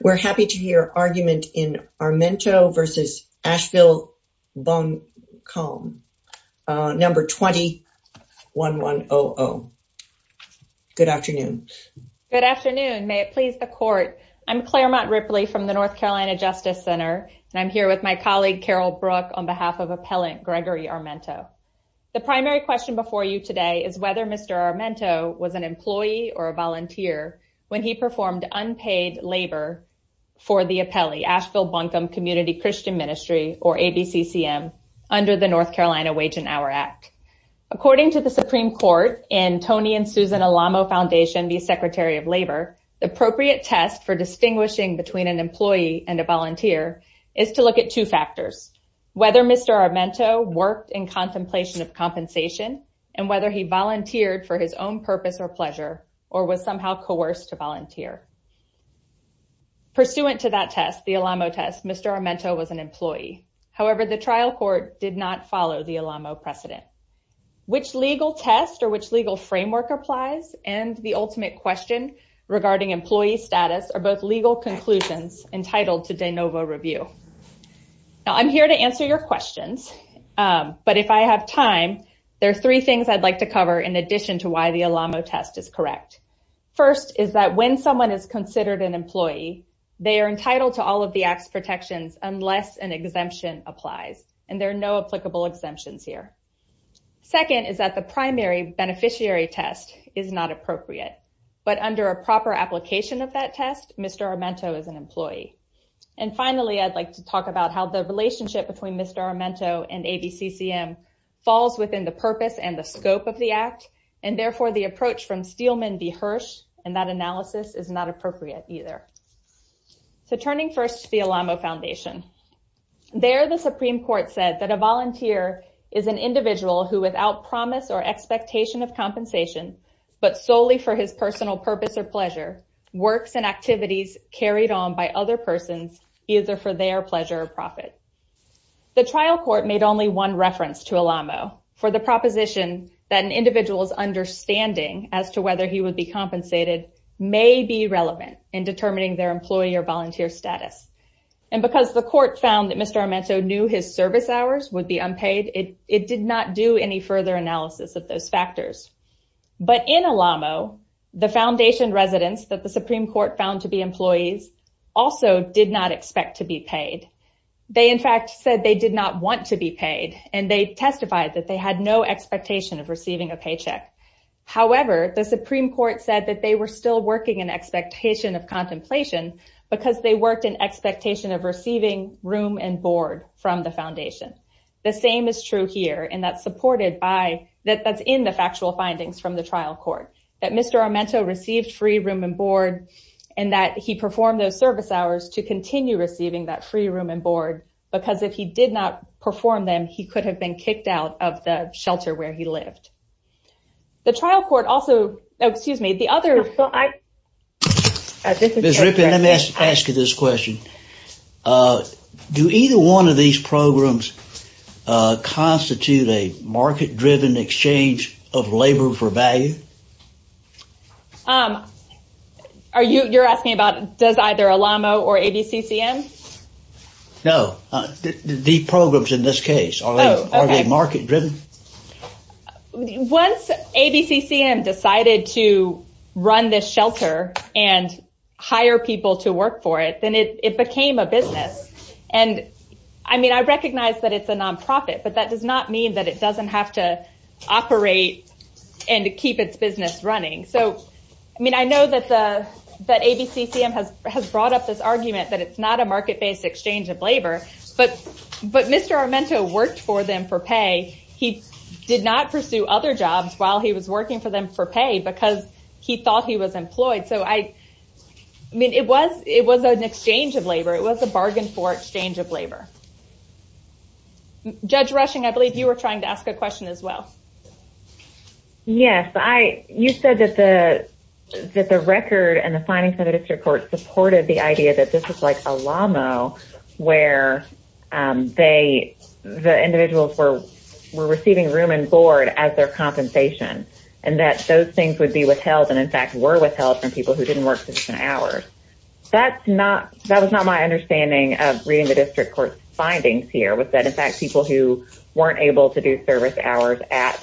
We're happy to hear argument in Armento v. Asheville Buncombe, number 21100. Good afternoon. Good afternoon. May it please the court. I'm Claremont Ripley from the North Carolina Justice Center, and I'm here with my colleague Carol Brook on behalf of Appellant Gregory Armento. The primary question before you today is whether Mr. Armento was an employee or a volunteer when he performed unpaid labor for the Appellee Asheville Buncombe Community Christian Ministry or ABCCM under the North Carolina Wage and Hour Act. According to the Supreme Court and Tony and Susan Alamo Foundation v. Secretary of Labor, the appropriate test for distinguishing between an employee and a volunteer is to look at two factors, whether Mr. Armento worked in contemplation of volunteer. Pursuant to that test, the Alamo test, Mr. Armento was an employee. However, the trial court did not follow the Alamo precedent. Which legal test or which legal framework applies and the ultimate question regarding employee status are both legal conclusions entitled to de novo review. Now, I'm here to answer your questions, but if I have time, there are three things I'd like to cover in addition to why the Alamo test is correct. First is that when someone is considered an employee, they are entitled to all of the Act's protections unless an exemption applies and there are no applicable exemptions here. Second is that the primary beneficiary test is not appropriate, but under a proper application of that test, Mr. Armento is an employee. And finally, I'd like to talk about how the relationship between Mr. Armento and ABCCM falls within the purpose and the scope of the Act and therefore the approach from Steelman v. Hirsch and that analysis is not appropriate either. So turning first to the Alamo Foundation, there the Supreme Court said that a volunteer is an individual who without promise or expectation of compensation, but solely for his personal purpose or pleasure, works and activities carried on by other persons either for their pleasure or profit. The trial court made only one reference to Alamo for the proposition that an individual's understanding as to whether he would be compensated may be relevant in determining their employee or volunteer status. And because the court found that Mr. Armento knew his service hours would be unpaid, it did not do any further analysis of those factors. But in Alamo, the Foundation residents that the Supreme Court found to be employees also did not expect to be paid. They in fact said they did not want to be paid and they testified that they had no expectation of receiving a paycheck. However, the Supreme Court said that they were still working in expectation of contemplation because they worked in expectation of receiving room and board from the Foundation. The same is true here and that's supported by, that's in the factual findings from the trial court, that Mr. Armento received free room and board and that he performed those service hours to continue receiving that free room and board because if he did not perform them, he could have been kicked out of the shelter where he lived. The trial court also, excuse me, the other... Ms. Ripken, let me ask you this question. Do either one of these programs constitute a market-driven exchange of labor for value? Are you, you're asking about does either Alamo or ABCCM? No, the programs in this case, are they market-driven? Once ABCCM decided to run this shelter and hire people to work for it, then it became a business. And I mean, I recognize that it's a nonprofit, but that does not mean that it doesn't have to operate and keep its business running. So, I mean, I know that ABCCM has brought up this market-based exchange of labor, but Mr. Armento worked for them for pay. He did not pursue other jobs while he was working for them for pay because he thought he was employed. So, I mean, it was an exchange of labor. It was a bargain for exchange of labor. Judge Rushing, I believe you were trying to ask a question as well. Yes. You said that the record and the record of the Alamo, where they, the individuals were receiving room and board as their compensation, and that those things would be withheld, and in fact, were withheld from people who didn't work sufficient hours. That's not, that was not my understanding of reading the district court's findings here, was that in fact, people who weren't able to do service hours at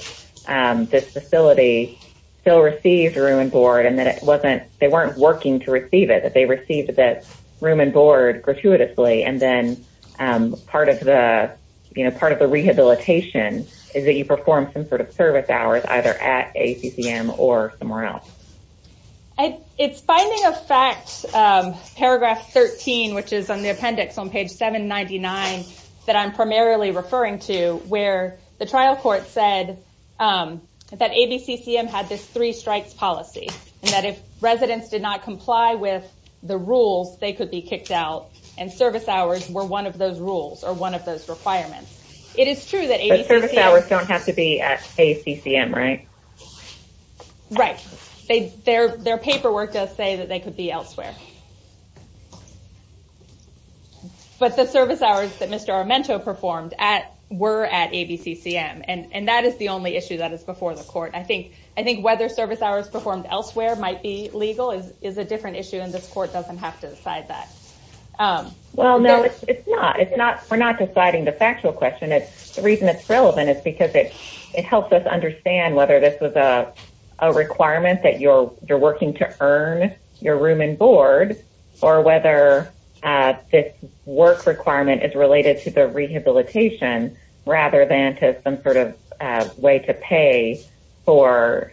this facility still received room and board, and that it wasn't, they weren't working to receive it, they received that room and board gratuitously, and then part of the, you know, part of the rehabilitation is that you perform some sort of service hours either at ABCCM or somewhere else. It's finding a fact, paragraph 13, which is on the appendix on page 799 that I'm primarily referring to, where the trial court said that ABCCM had this three strikes policy, and that if residents did not comply with the rules, they could be kicked out, and service hours were one of those rules, or one of those requirements. It is true that ABCCM... But service hours don't have to be at ABCCM, right? Right. Their paperwork does say that they could be elsewhere. But the service hours that Mr. Armento performed at, were at ABCCM, and that is the only issue that is before the court. I think whether service hours performed elsewhere might be legal is a different issue, and this court doesn't have to decide that. Well, no, it's not. We're not deciding the factual question. The reason it's relevant is because it helps us understand whether this was a requirement that you're working to earn your room and board, or whether this work requirement is related to the rehabilitation, rather than to some sort of way to pay for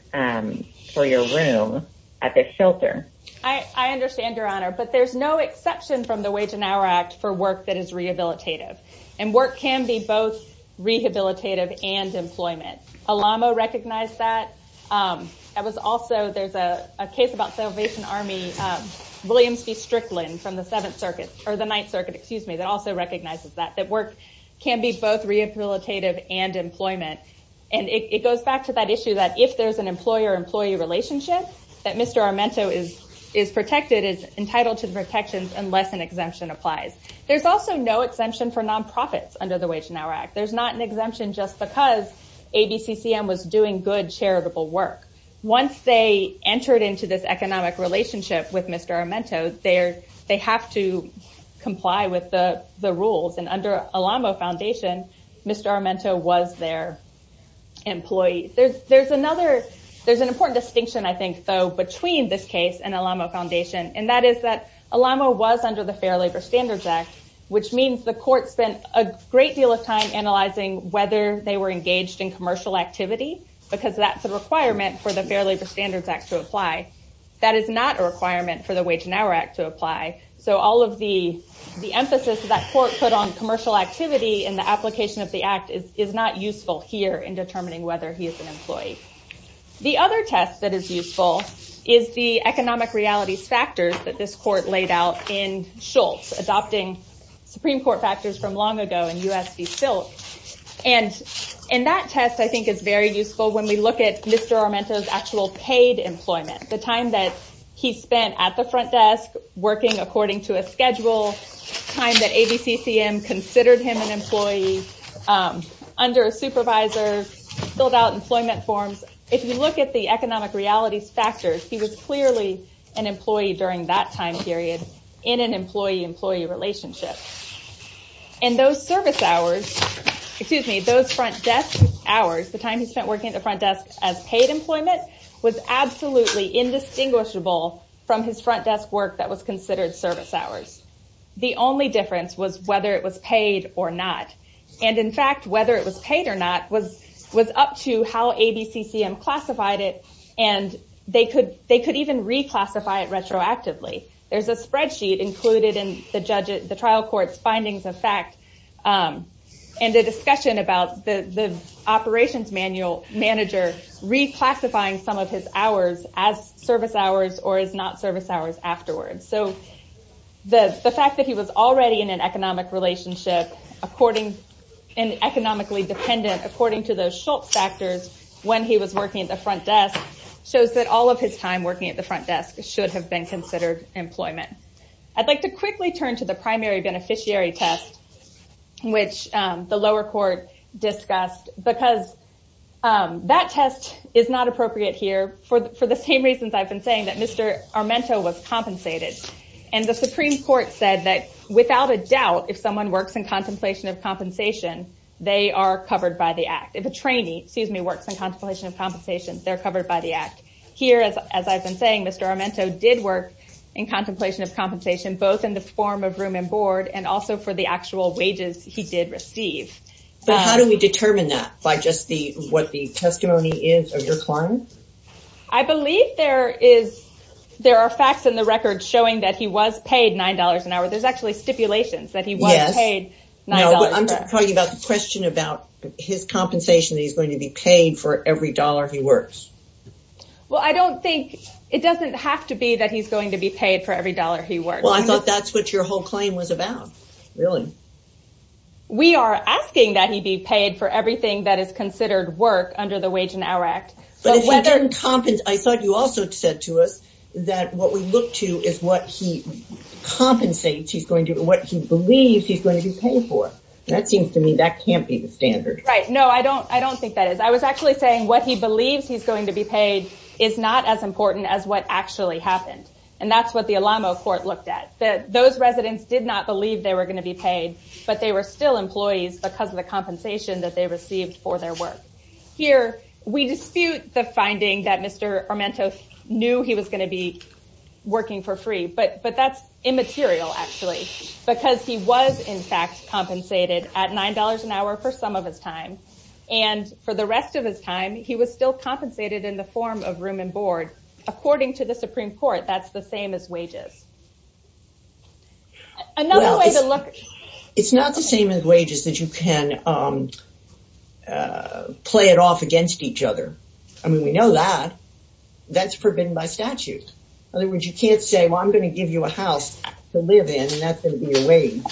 your room at the shelter. I understand, Your Honor, but there's no exception from the Wage and Hour Act for work that is rehabilitative, and work can be both rehabilitative and employment. Alamo recognized that. There's a case about Salvation Army, Williams v. Strickland from the Seventh Circuit, or the Ninth Circuit, excuse me, that also recognizes that, that work can be both rehabilitative and employment. And it goes back to that issue that if there's an employer-employee relationship, that Mr. Armento is protected, is entitled to protections unless an exemption applies. There's also no exemption for nonprofits under the Wage and Hour Act. There's not an exemption just because ABCCM was doing good charitable work. Once they entered into this comply with the rules, and under Alamo Foundation, Mr. Armento was their employee. There's an important distinction, I think, though, between this case and Alamo Foundation, and that is that Alamo was under the Fair Labor Standards Act, which means the court spent a great deal of time analyzing whether they were engaged in commercial activity, because that's a requirement for the Fair Labor Standards Act to apply. That is not a requirement for the Wage and Hour Act to apply. So all of the emphasis that court put on commercial activity in the application of the act is not useful here in determining whether he is an employee. The other test that is useful is the economic realities factors that this court laid out in Schultz, adopting Supreme Court factors from long ago in U.S. v. Silk. And that test, I think, is very useful when we look at Mr. Armento. He spent at the front desk working according to a schedule, time that ABCCM considered him an employee, under a supervisor, filled out employment forms. If you look at the economic realities factors, he was clearly an employee during that time period in an employee-employee relationship. And those service hours, excuse me, those front desk hours, the time he spent working at the front desk as paid employment was absolutely indistinguishable from his front desk work that was considered service hours. The only difference was whether it was paid or not. And in fact, whether it was paid or not was up to how ABCCM classified it, and they could even reclassify it retroactively. There's a spreadsheet included in the trial court's findings of fact and a discussion about the operations manager reclassifying some of his hours as service hours or as not service hours afterwards. So the fact that he was already in an economic relationship and economically dependent according to those Schultz factors when he was working at the front desk shows that all of his time working at the front desk should have been considered employment. I'd like to quickly turn to the primary beneficiary test, which the lower court discussed, because that test is not appropriate here for the same reasons I've been saying that Mr. Armento was compensated. And the Supreme Court said that without a doubt, if someone works in contemplation of compensation, they are covered by the act. If a trainee, excuse me, works in contemplation of compensation, they're covered by the act. Here, as I've been saying, Mr. Armento did work in contemplation of compensation, both in the form of room and board and also for the actual wages he did receive. But how do we determine that by just what the testimony is of your client? I believe there are facts in the record showing that he was paid $9 an hour. There's actually stipulations that he was paid $9 an hour. I'm talking about the question about his compensation, that he's going to be paid for every dollar he works. Well, I don't think it doesn't have to be that he's going to be paid for every dollar he works. Well, I thought that's what your whole claim was about. Really? We are asking that he be paid for everything that is considered work under the Wage and Hour Act. But if he didn't compensate, I thought you also said to us that what we look to is what he compensates, what he believes he's going to be paid for. That seems to me that can't be the standard. Right. No, I don't think that is. I was actually saying what he believes he's going to be paid is not as important as what actually happened. And that's what the Alamo court looked at, that those residents did not believe they were going to be paid, but they were still employees because of the compensation that they received for their work. Here, we dispute the finding that Mr. Armento knew he was going to be working for free, but that's immaterial actually, because he was in fact compensated at $9 an hour for some of his time. And for the rest of his time, he was still compensated in the form of room and board. According to the Supreme Court, that's the same as wages. It's not the same as wages that you can play it off against each other. I mean, we know that that's forbidden by statute. In other words, you can't say, well, I'm going to give you a house to live in and that's going to be a wage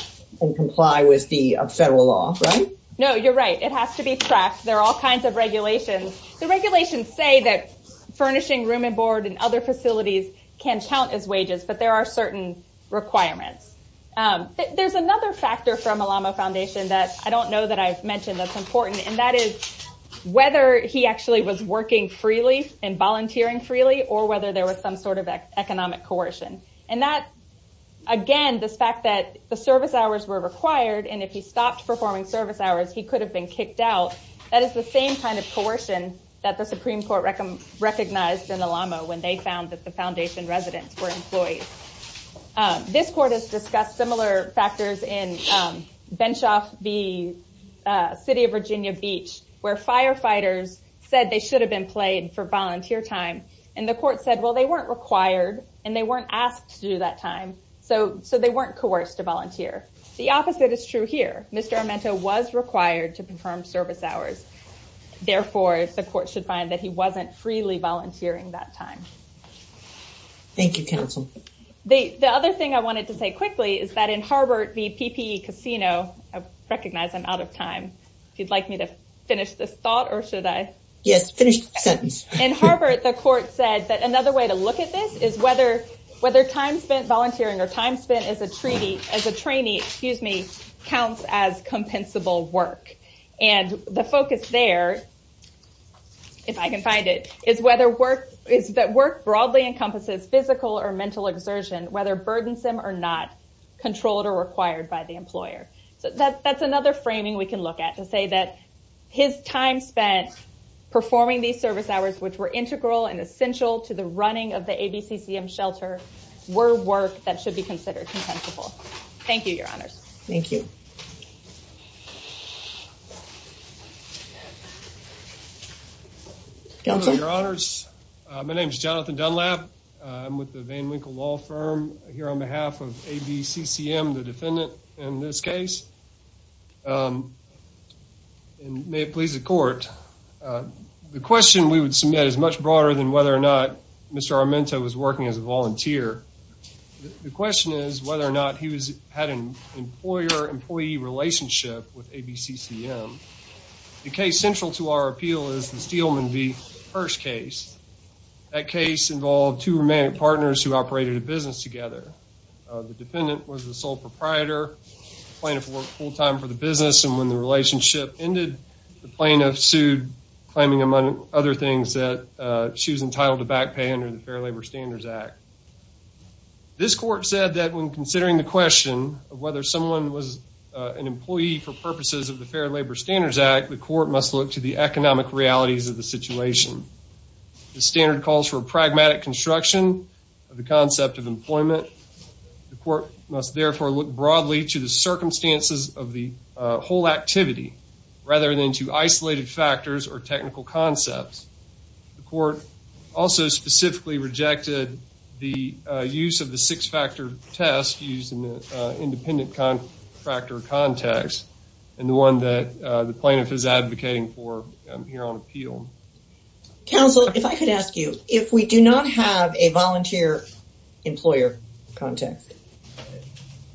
and comply with the federal law, right? No, you're right. It has to be tracked. There are all kinds of regulations. The regulations say that furnishing room and board and other facilities can count as wages, but there are certain requirements. There's another factor from Alamo Foundation that I don't know that I've mentioned that's important, and that is whether he actually was working freely and volunteering freely, or whether there was some sort of economic coercion. And that, again, this fact that the service hours were required, and if he stopped performing service hours, he could have been kicked out, that is the same kind of coercion that the Supreme Court recognized in Alamo when they found that the Foundation residents were employees. This court has discussed similar factors in Benshoff v. City of Virginia Beach, where firefighters said they should have been played for volunteer time, and the court said, well, they weren't required and they weren't asked to do that time, so they weren't coerced to volunteer. The opposite is true here. Mr. Amento was required to perform service hours. Therefore, the court should find that he wasn't freely volunteering that time. Thank you, counsel. The other thing I wanted to say quickly is that in Harvard v. PPE Casino, I recognize I'm out of time. If you'd like me to finish this thought, or should I? Yes, finish the sentence. In Harvard, the court said that another way to look at this is whether time spent volunteering or time spent as a trainee counts as compensable work. And the focus there, if I can find it, is that work broadly encompasses physical or mental exertion, whether burdensome or not, controlled or required by the employer. So that's another framing we can look at to say that his time spent performing these service hours, which were integral and essential to the running of the ABCCM shelter, were work that should be considered compensable. Thank you, Your Honors. Thank you. Counsel? Your Honors, my name is Jonathan Dunlap. I'm with the Van Winkle Law Firm here on behalf of ABCCM, the defendant in this case. And may it please the court, the question we would submit is much broader than whether or not Mr. Armento was working as a volunteer. The question is whether or not he had an employer-employee relationship with ABCCM. The case central to our appeal is the Steelman v. Hirsch case. That case involved two romantic partners who operated a business together. The dependent was the sole proprietor. The plaintiff worked full-time for the business, and when the relationship ended, the plaintiff sued, claiming, among other things, that she was entitled to back pay under the Fair Labor Standards Act. This court said that when considering the question of whether someone was an employee for purposes of the Fair Labor Standards Act, the court must look to the economic realities of the situation. The standard calls for pragmatic construction of the concept of employment. The court must therefore look broadly to the circumstances of the whole activity rather than to isolated factors or technical concepts. The court also specifically rejected the use of the six-factor test used in the independent factor context and the one that the plaintiff is advocating for here on appeal. Counsel, if I could ask you, if we do not have a volunteer employer context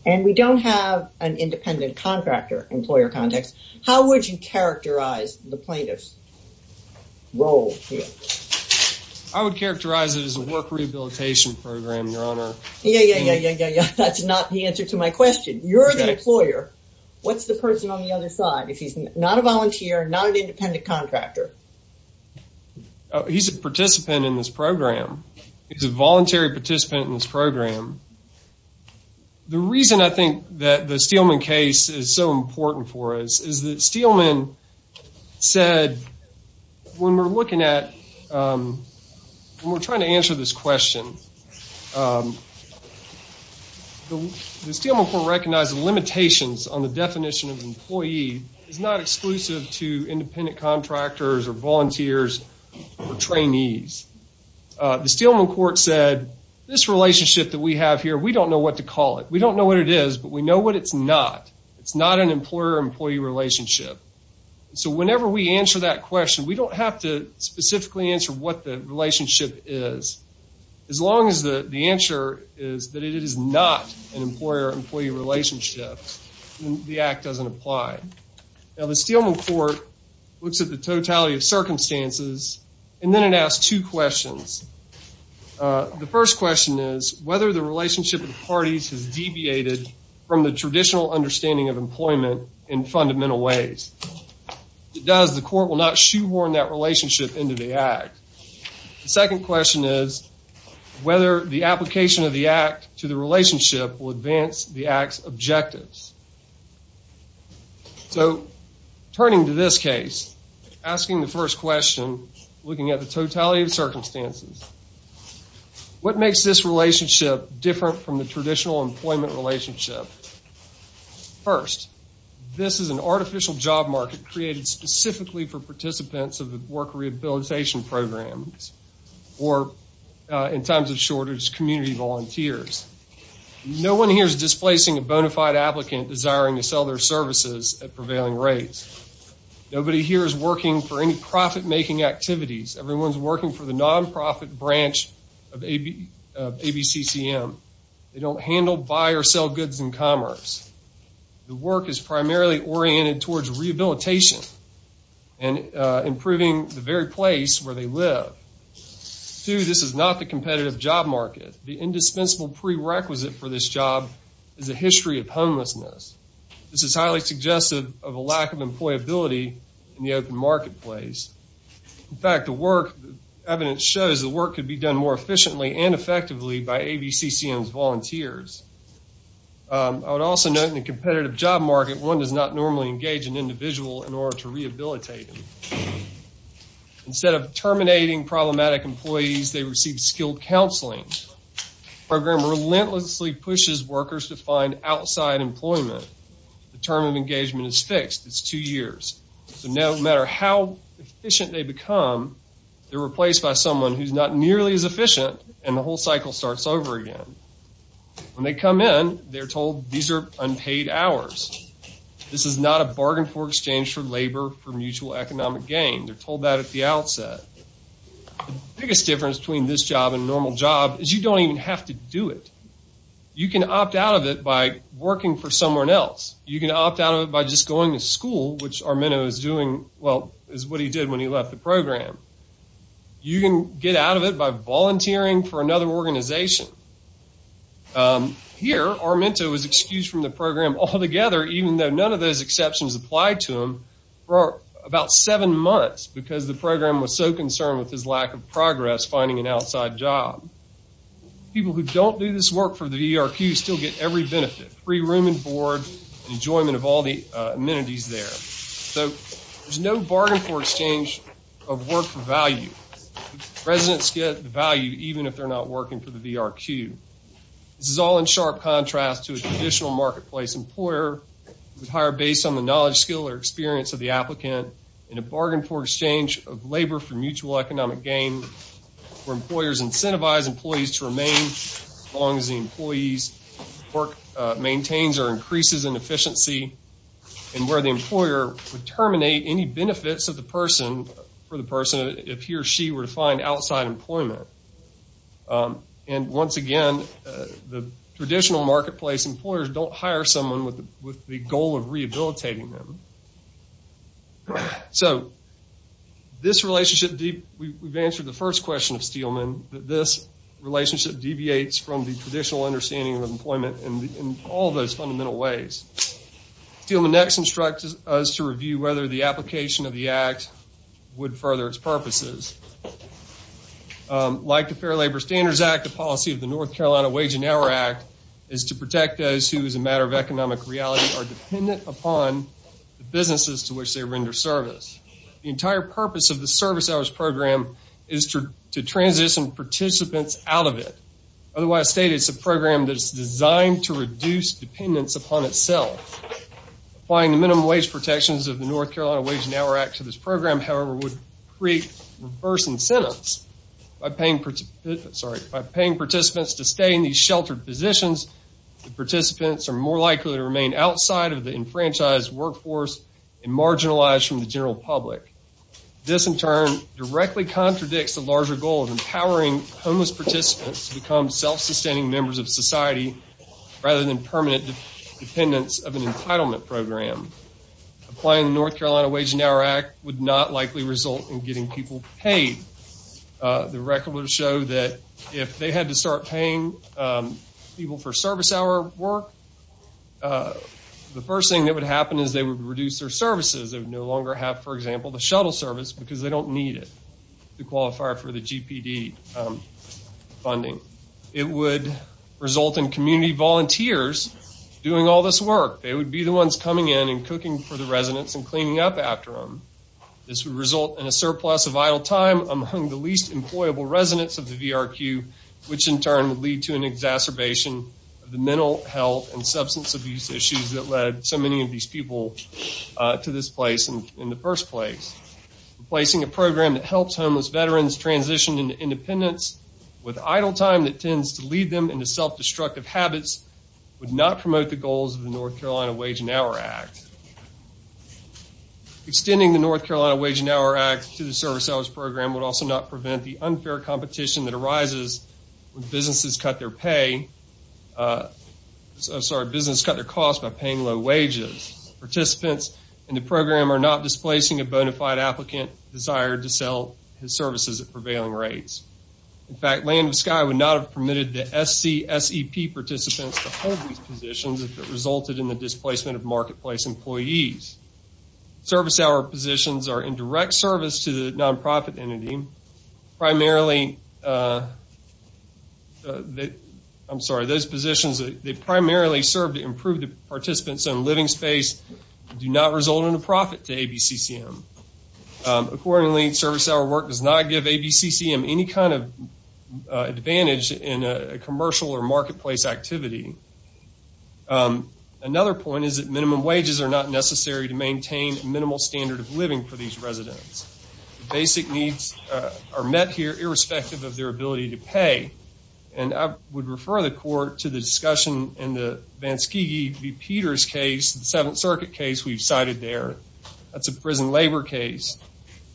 and we don't have an independent contractor employer context, how would you characterize the plaintiff's role here? I would characterize it as a work rehabilitation program, Your Honor. Yeah, yeah, yeah, yeah, yeah, yeah. That's not the answer to my question. You're the employer. What's the person on the other side if he's not a volunteer, not an independent contractor? He's a participant in this program. He's a voluntary participant in this program. The reason I think that the Steelman case is so important for us is that Steelman said when we're looking at, when we're trying to answer this question, the Steelman court recognized limitations on the definition of employee is not exclusive to trainees. The Steelman court said this relationship that we have here, we don't know what to call it. We don't know what it is, but we know what it's not. It's not an employer employee relationship. So whenever we answer that question, we don't have to specifically answer what the relationship is. As long as the answer is that it is not an employer employee relationship, the act doesn't apply. Now the Steelman court looks at the totality of circumstances and then it asks two questions. The first question is whether the relationship of the parties has deviated from the traditional understanding of employment in fundamental ways. If it does, the court will not shoehorn that relationship into the act. The second question is whether the application of the act to the relationship will advance the act's objectives. So turning to this case, asking the first question, looking at the totality of circumstances, what makes this relationship different from the traditional employment relationship? First, this is an artificial job market created specifically for participants of the work rehabilitation programs or in times of shortage, community volunteers. No one here is displacing a bona fide applicant desiring to sell their services at prevailing rates. Nobody here is working for any profit making activities. Everyone's working for the non-profit branch of ABCCM. They don't handle, buy, or sell goods in commerce. The work is primarily oriented towards rehabilitation and improving the very place where they live. Two, this is not the competitive job market. The indispensable prerequisite for this job is a history of homelessness. This is highly suggestive of a lack of employability in the open marketplace. In fact, the work, evidence shows the work could be done more efficiently and effectively by ABCCM's volunteers. I would also note in the competitive job market, one does not normally engage an individual in order to rehabilitate them. Instead of terminating problematic employees, they receive skilled counseling. The program relentlessly pushes workers to find outside employment. The term of engagement is fixed. It's two years. So no matter how efficient they become, they're replaced by someone who's not told these are unpaid hours. This is not a bargain for exchange for labor for mutual economic gain. They're told that at the outset. The biggest difference between this job and a normal job is you don't even have to do it. You can opt out of it by working for someone else. You can opt out of it by just going to school, which Armino is doing, well, is what he did when he left the program. Here, Armino was excused from the program altogether, even though none of those exceptions applied to him for about seven months because the program was so concerned with his lack of progress finding an outside job. People who don't do this work for the VRQ still get every benefit, free room and board, enjoyment of all the amenities there. So there's no bargain for exchange of work for value. Residents get value even if they're not working for the VRQ. This is all in sharp contrast to a traditional marketplace employer who would hire based on the knowledge, skill or experience of the applicant in a bargain for exchange of labor for mutual economic gain where employers incentivize employees to remain as long as the employee's work maintains or increases in efficiency and where the employer would terminate any benefits of the person, for the person, if he or she were to find outside employment. And once again, the traditional marketplace employers don't hire someone with the goal of rehabilitating them. So this relationship, we've answered the first question of Steelman, that this relationship deviates from the traditional understanding of employment in all those fundamental ways. Steelman next instructs us to review whether the application of the act would further its purposes. Like the Fair Labor Standards Act, the policy of the North Carolina Wage and Hour Act is to protect those who, as a matter of economic reality, are dependent upon the businesses to which they render service. The entire purpose of the service hours program is to transition participants out of it. Otherwise stated, it's a program that's designed to reduce dependence upon itself. Applying the minimum wage protections of the North Carolina Wage and Hour Act to this program, however, would create reverse incentives by paying participants to stay in these sheltered positions. The participants are more likely to remain outside of the enfranchised workforce and marginalized from the general public. This, in turn, directly contradicts a larger goal of empowering homeless participants to become self-sustaining members of society rather than permanent dependents of an entitlement program. Applying the North Carolina Wage and Hour Act would not likely result in getting people paid. The record would show that if they had to start paying people for service hour work, the first thing that would happen is they would reduce their services. They would no longer have, for example, the shuttle service because they don't need it to qualify for the GPD funding. It would result in community volunteers doing all this work. They would be the ones coming in and cooking for the residents and cleaning up after them. This would result in a surplus of idle time among the least employable residents of the VRQ, which, in turn, would lead to an exacerbation of the mental health and substance abuse issues that led so many of to this place in the first place. Placing a program that helps homeless veterans transition into independence with idle time that tends to lead them into self-destructive habits would not promote the goals of the North Carolina Wage and Hour Act. Extending the North Carolina Wage and Hour Act to the service hours program would also not prevent the unfair competition that arises when businesses cut their pay, I'm sorry, business cut their cost by paying low wages. Participants in the program are not displacing a bona fide applicant desire to sell his services at prevailing rates. In fact, Land of the Sky would not have permitted the SCSEP participants to hold these positions if it resulted in the displacement of marketplace employees. Service hour positions are in direct service to the nonprofit entity. Primarily, I'm sorry, those positions, they primarily serve to improve the participants' own living space and do not result in a profit to ABCCM. Accordingly, service hour work does not give ABCCM any kind of advantage in a commercial or marketplace activity. Another point is that minimum wages are not necessary to maintain a minimal standard of residence. Basic needs are met here irrespective of their ability to pay. And I would refer the court to the discussion in the Vanskegee v. Peters case, the Seventh Circuit case we've cited there. That's a prison labor case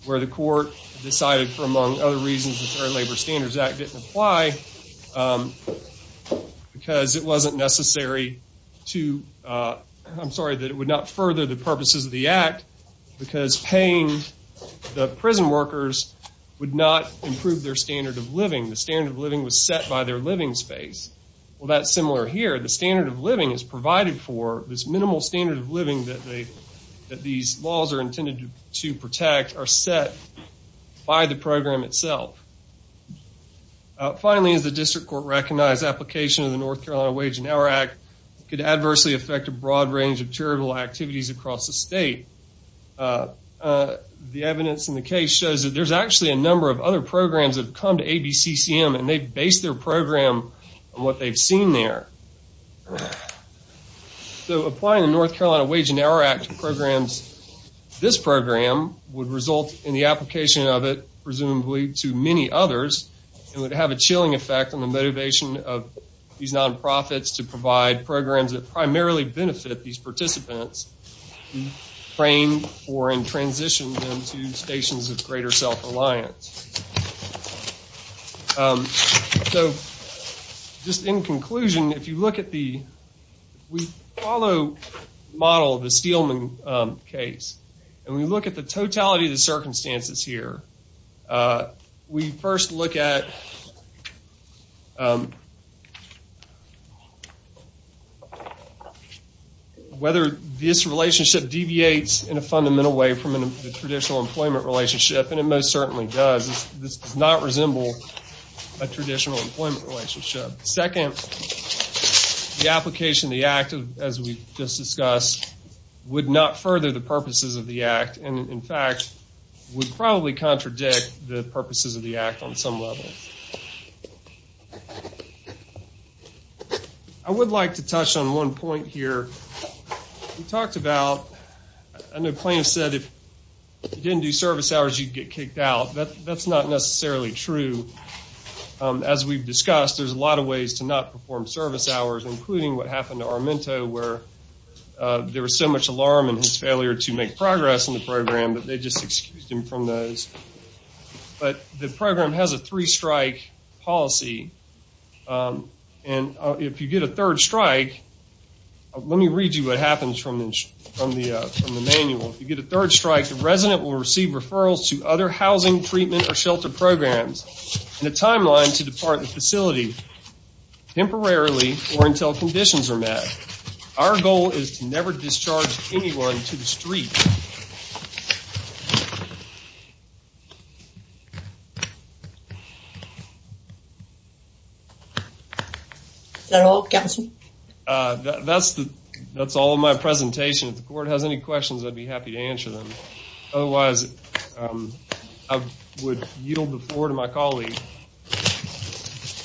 where the court decided, for among other reasons, the Fair Labor Standards Act didn't apply because it wasn't necessary to, I'm sorry, that it would not the prison workers would not improve their standard of living. The standard of living was set by their living space. Well, that's similar here. The standard of living is provided for. This minimal standard of living that these laws are intended to protect are set by the program itself. Finally, as the district court recognized, application of the North Carolina Wage and Hour Act could adversely affect a broad range of charitable activities across the evidence in the case shows that there's actually a number of other programs that have come to ABCCM and they've based their program on what they've seen there. So, applying the North Carolina Wage and Hour Act programs, this program would result in the application of it, presumably, to many others and would have a chilling effect on the motivation of these non-profits to provide programs that primarily benefit these participants and transition them to stations of greater self-reliance. So, just in conclusion, if you look at the, we follow the model of the Steelman case and we look at the totality of the circumstances here. We first look at whether this relationship deviates in a fundamental way from the traditional employment relationship and it most certainly does. This does not resemble a traditional employment relationship. Second, the application of the act, as we just discussed, would not further the purposes of the act and, in fact, would probably contradict the purposes of the act on some level. I would like to touch on one point here. We talked about, I know plaintiffs said if you didn't do service hours you'd get kicked out. That's not necessarily true. As we've discussed, there's a lot of ways to not perform service hours, including what happened to Armento where there was so much alarm and his failure to make progress in the program that they just excused him from those. But the program has a three strike policy and if you get a third strike, let me read you what happens from the manual. If you get a third strike, the resident will receive referrals to other housing, treatment, or shelter programs and a timeline to depart the facility temporarily or until conditions are met. Our goal is to never discharge anyone to the street. Is that all, Captain? That's all of my presentation. If the court has any questions, I'd be happy to answer them. Otherwise, I would yield the floor to my colleague.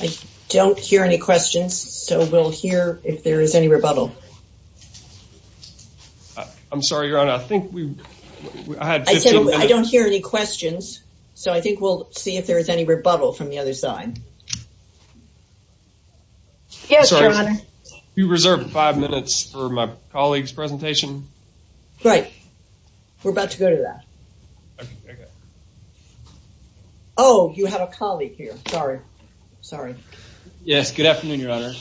I don't hear any questions, so we'll hear if there is any rebuttal. I'm sorry, Your Honor. I don't hear any questions, so I think we'll see if there is any rebuttal from the other side. Yes, Your Honor. You reserved five minutes for my colleague's presentation. Right. We're about to go to that. Oh, you have a colleague here. Sorry. Sorry. Yes, good afternoon, Your Honor.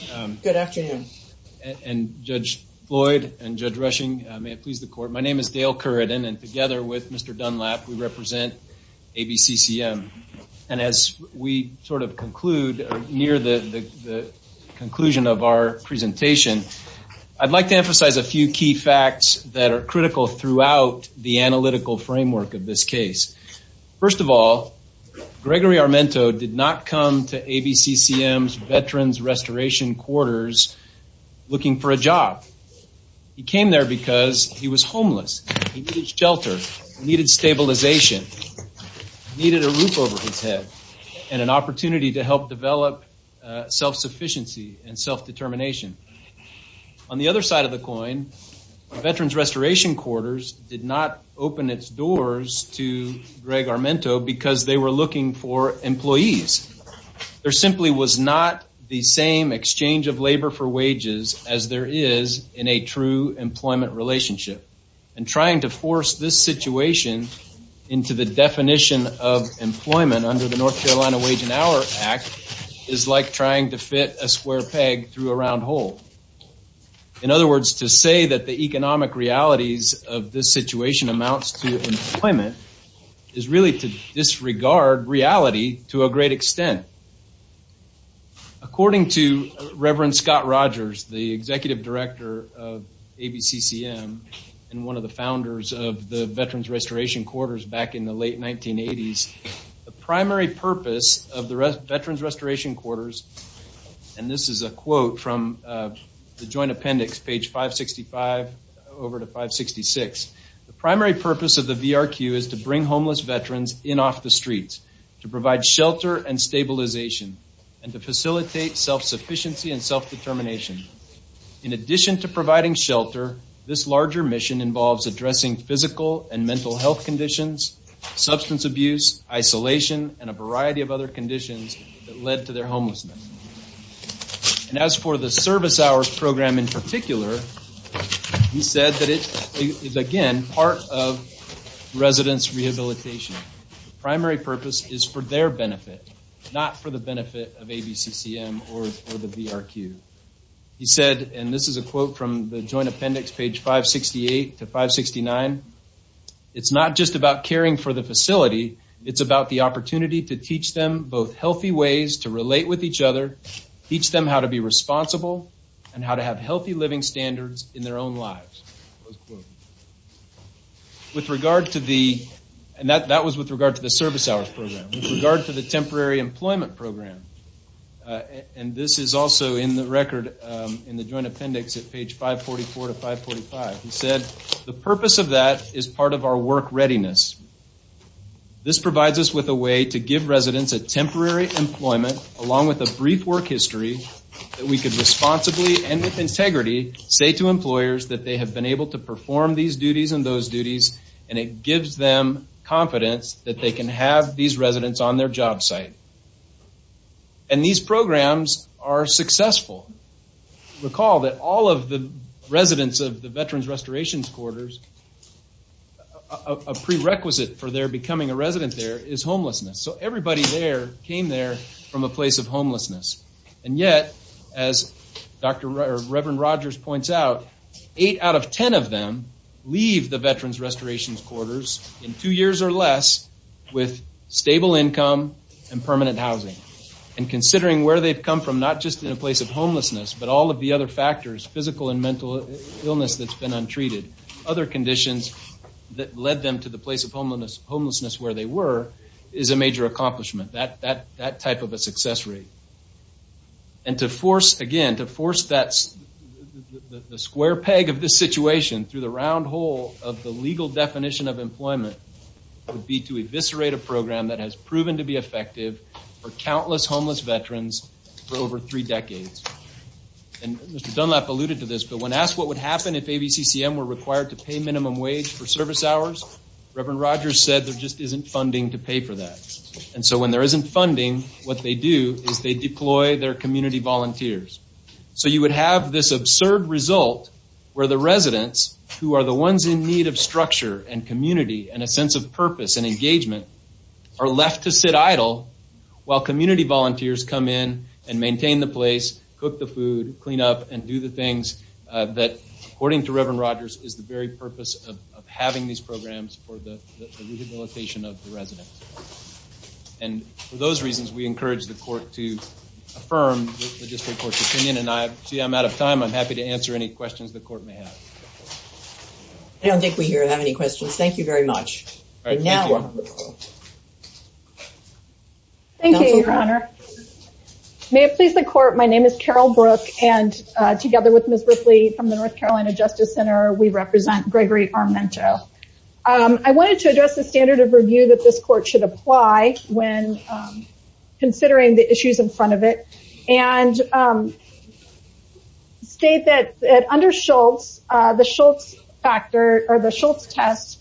Good afternoon. And Judge Floyd and Judge Rushing, may it please the court. My name is Dale Curidan and together with Mr. Dunlap, we represent ABCCM. And as we sort of conclude, near the conclusion of our presentation, I'd like to emphasize a few key facts that are critical throughout the analytical framework of this case. First of all, Gregory Armento did not come to Veterans Restoration Quarters looking for a job. He came there because he was homeless. He needed shelter, needed stabilization, needed a roof over his head, and an opportunity to help develop self-sufficiency and self-determination. On the other side of the coin, Veterans Restoration Quarters did not open its doors to Greg Armento because they were looking for employees. There was not the same exchange of labor for wages as there is in a true employment relationship. And trying to force this situation into the definition of employment under the North Carolina Wage and Hour Act is like trying to fit a square peg through a round hole. In other words, to say that the economic realities of this situation amounts to employment is really to disregard reality to a great extent. According to Reverend Scott Rogers, the Executive Director of ABCCM and one of the founders of the Veterans Restoration Quarters back in the late 1980s, the primary purpose of the Veterans Restoration Quarters, and this is a quote from the Joint Appendix, page 565 over to 566, the primary purpose of the VRQ is to bring homeless veterans in off the streets, to provide shelter and stabilization, and to facilitate self-sufficiency and self-determination. In addition to providing shelter, this larger mission involves addressing physical and mental health conditions, substance abuse, isolation, and a variety of other conditions that led to their homelessness. And as for the service hours program in particular, he said that it is again part of residents rehabilitation. The primary purpose is for their benefit, not for the benefit of ABCCM or the VRQ. He said, and this is a quote from the Joint Appendix, page 568 to 569, it's not just about caring for the facility, it's about the ways to relate with each other, teach them how to be responsible, and how to have healthy living standards in their own lives. With regard to the, and that was with regard to the service hours program, with regard to the temporary employment program, and this is also in the record in the Joint Appendix at page 544 to 545, he said the purpose of that is part of our work readiness. This provides us with a way to give residents a temporary employment along with a brief work history that we could responsibly and with integrity say to employers that they have been able to perform these duties and those duties, and it gives them confidence that they can have these residents on their job site. And these programs are successful. Recall that all of the Veterans Restorations Quarters, a prerequisite for their becoming a resident there is homelessness. So everybody there came there from a place of homelessness. And yet, as Reverend Rogers points out, eight out of ten of them leave the Veterans Restorations Quarters in two years or less with stable income and permanent housing. And considering where they've come from, not just in a place of untreated, other conditions that led them to the place of homelessness where they were is a major accomplishment. That type of a success rate. And to force, again, to force that the square peg of this situation through the round hole of the legal definition of employment would be to eviscerate a program that has proven to be effective for countless homeless Veterans for over three decades. And Mr. Dunlap alluded to this, but when asked what would happen if ABCCM were required to pay minimum wage for service hours, Reverend Rogers said there just isn't funding to pay for that. And so when there isn't funding, what they do is they deploy their community volunteers. So you would have this absurd result where the residents who are the ones in need of structure and community and a sense of purpose and engagement are left to sit idle while community volunteers come in and maintain the place, cook the food, clean up, and do the things that, according to Reverend Rogers, is the very purpose of having these programs for the rehabilitation of the residents. And for those reasons, we encourage the court to affirm the district court's opinion. And I see I'm out of time. I'm happy to answer any questions the court may have. I don't think we here have any questions. Thank you very much. Thank you, Your Honor. May it please the court, my name is Carol Brook and together with Ms. Ripley from the North Carolina Justice Center, we represent Gregory Armento. I wanted to address the standard of review that this court should apply when considering the issues in front of it and state that under Shultz, the Shultz factor or the Shultz test,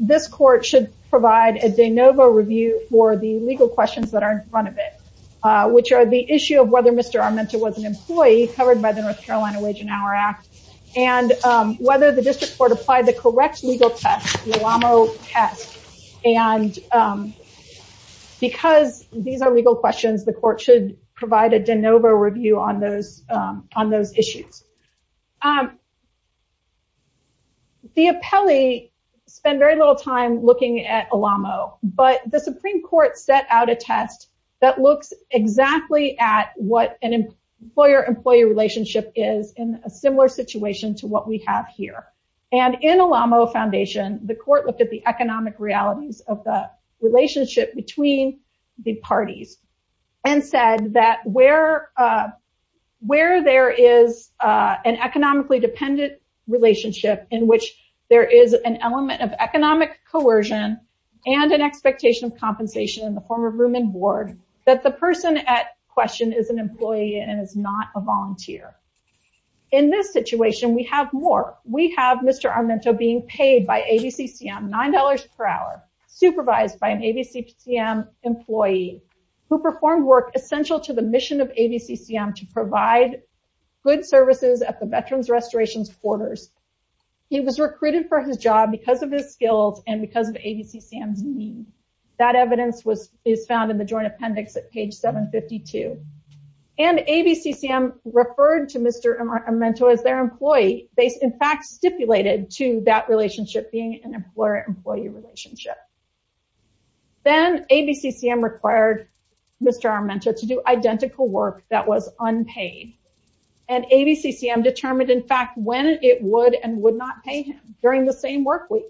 this court should provide a de novo review for the legal questions that are in front of it, which are the issue of whether Mr. Armento was an employee covered by the North Carolina Wage and Hour Act, and whether the district court applied the correct legal test, the Llamo test. And because these are legal questions, the court should provide a de novo review on those issues. The appellee spent very little time looking at Llamo, but the Supreme Court set out a test that looks exactly at what an employer-employee relationship is in a similar situation to what we have here. And in Llamo Foundation, the court looked at the economic realities of the relationship between the parties and said that where there is an economically dependent relationship in which there is an element of economic coercion and an expectation of compensation in the form of room and board, that the person at question is an employee and is not a volunteer. In this situation, we have more. We have Mr. Armento being paid by ABCCM $9 per hour, supervised by an ABCCM employee who performed work essential to the good services at the Veterans Restorations Quarters. He was recruited for his job because of his skills and because of ABCCM's need. That evidence is found in the joint appendix at page 752. And ABCCM referred to Mr. Armento as their employee. They, in fact, stipulated to that relationship being an employer-employee relationship. Then ABCCM required Mr. Armento to do identical work that was unpaid. And ABCCM determined, in fact, when it would and would not pay him during the same work week.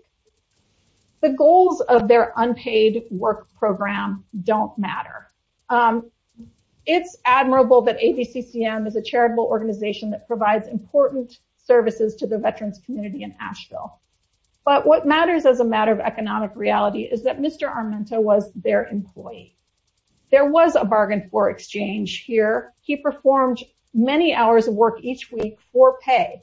The goals of their unpaid work program don't matter. It's admirable that ABCCM is a charitable organization that provides important services to the veterans community in Asheville. But what matters as a matter of economic reality is that for Mr. Armento, he performed many hours of work each week for pay.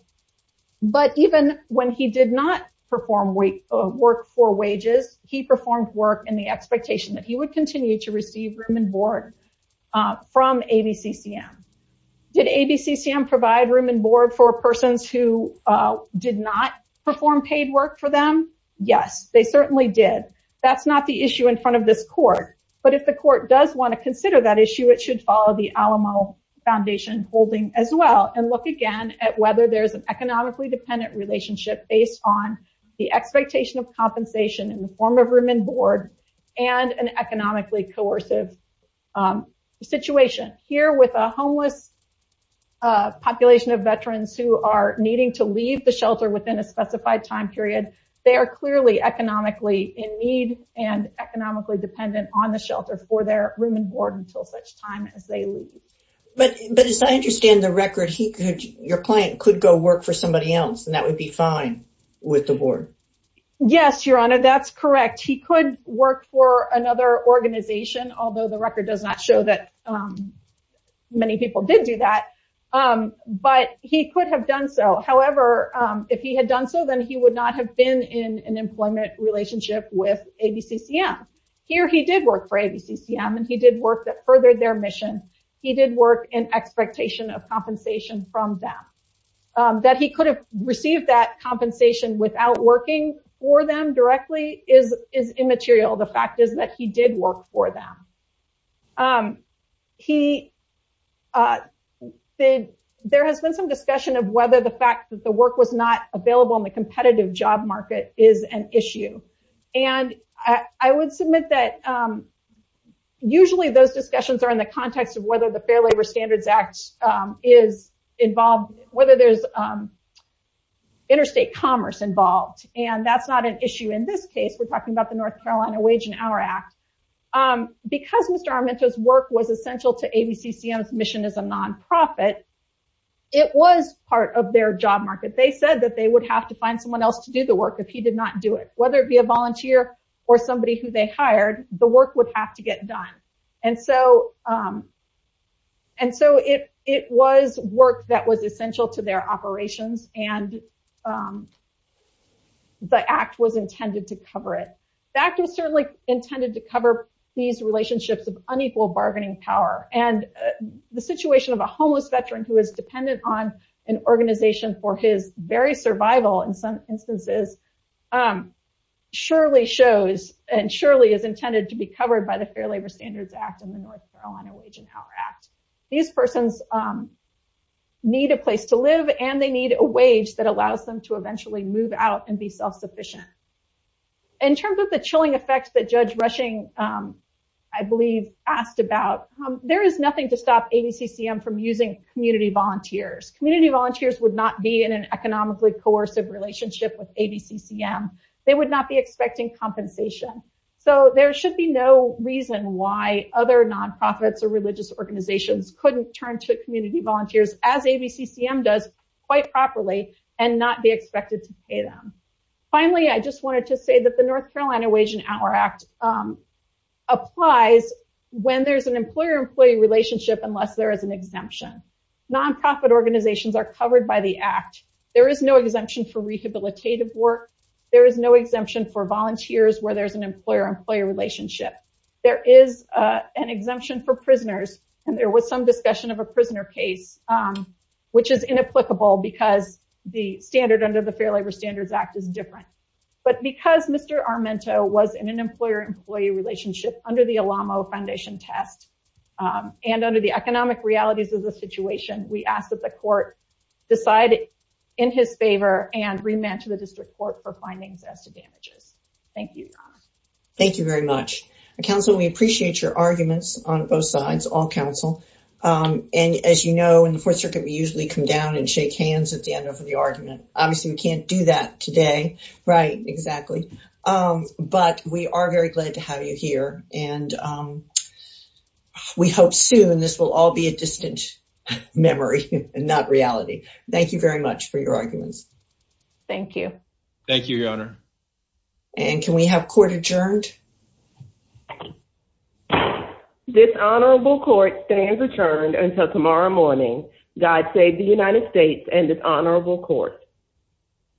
But even when he did not perform work for wages, he performed work in the expectation that he would continue to receive room and board from ABCCM. Did ABCCM provide room and board for persons who did not perform paid work for them? Yes, they certainly did. That's not the issue in front of this court. But if the court does want to consider that issue, it should follow the Alamo Foundation holding as well and look again at whether there's an economically dependent relationship based on the expectation of compensation in the form of room and board and an economically coercive situation. Here with a homeless population of veterans who are needing to leave the shelter within a specified time period, they are clearly economically in need and economically dependent on the shelter for their room and board until such time as they leave. But as I understand the record, your client could go work for somebody else and that would be fine with the board. Yes, Your Honor, that's correct. He could work for another organization, although the record does not show that many people did do that. But he could have done so. However, if he had done so, then he did work for ABCCM and he did work that furthered their mission. He did work in expectation of compensation from them. That he could have received that compensation without working for them directly is immaterial. The fact is that he did work for them. There has been some discussion of whether the fact that the work was not available in the North Carolina Wage and Hour Act. Usually those discussions are in the context of whether the Fair Labor Standards Act is involved, whether there's interstate commerce involved, and that's not an issue in this case. We're talking about the North Carolina Wage and Hour Act. Because Mr. Armento's work was essential to ABCCM's mission as a non-profit, it was part of their job market. They said that they would have to find someone else to do the work if he did not do it, whether it be a volunteer or somebody who they hired, the work would have to get done. And so it was work that was essential to their operations and the act was intended to cover it. The act was certainly intended to cover these relationships of unequal bargaining power. And the situation of a homeless veteran who is dependent on an organization for his very survival in some surely shows and surely is intended to be covered by the Fair Labor Standards Act and the North Carolina Wage and Hour Act. These persons need a place to live and they need a wage that allows them to eventually move out and be self-sufficient. In terms of the chilling effects that Judge Rushing, I believe, asked about, there is nothing to stop ABCCM from using community volunteers. Community volunteers would not be in an economically coercive relationship with ABCCM. They would not be expecting compensation. So there should be no reason why other non-profits or religious organizations couldn't turn to community volunteers as ABCCM does quite properly and not be expected to pay them. Finally, I just wanted to say that the North Carolina Wage and Hour Act applies when there's an employer-employee relationship unless there is an exemption. Non-profit organizations are covered by the act. There is no exemption for rehabilitative work. There is no exemption for volunteers where there's an employer-employee relationship. There is an exemption for prisoners and there was some discussion of a prisoner case, which is inapplicable because the standard under the Fair Labor Standards Act is different. But because Mr. Armento was in an employer-employee relationship under the Alamo Foundation test and under the economic realities of the situation, we ask that the court decide in his favor and remand to the district court for findings as to damages. Thank you. Thank you very much. Counsel, we appreciate your arguments on both sides, all counsel. And as you know, in the Fourth Circuit, we usually come down and shake hands at the end of the argument. Obviously, we can't do that today. Right, exactly. But we are very glad to have you here and we hope soon this will all be a distant memory and not reality. Thank you very much for your arguments. Thank you. Thank you, Your Honor. And can we have court adjourned? Dishonorable court stands adjourned until tomorrow morning. God save the United States and dishonorable court.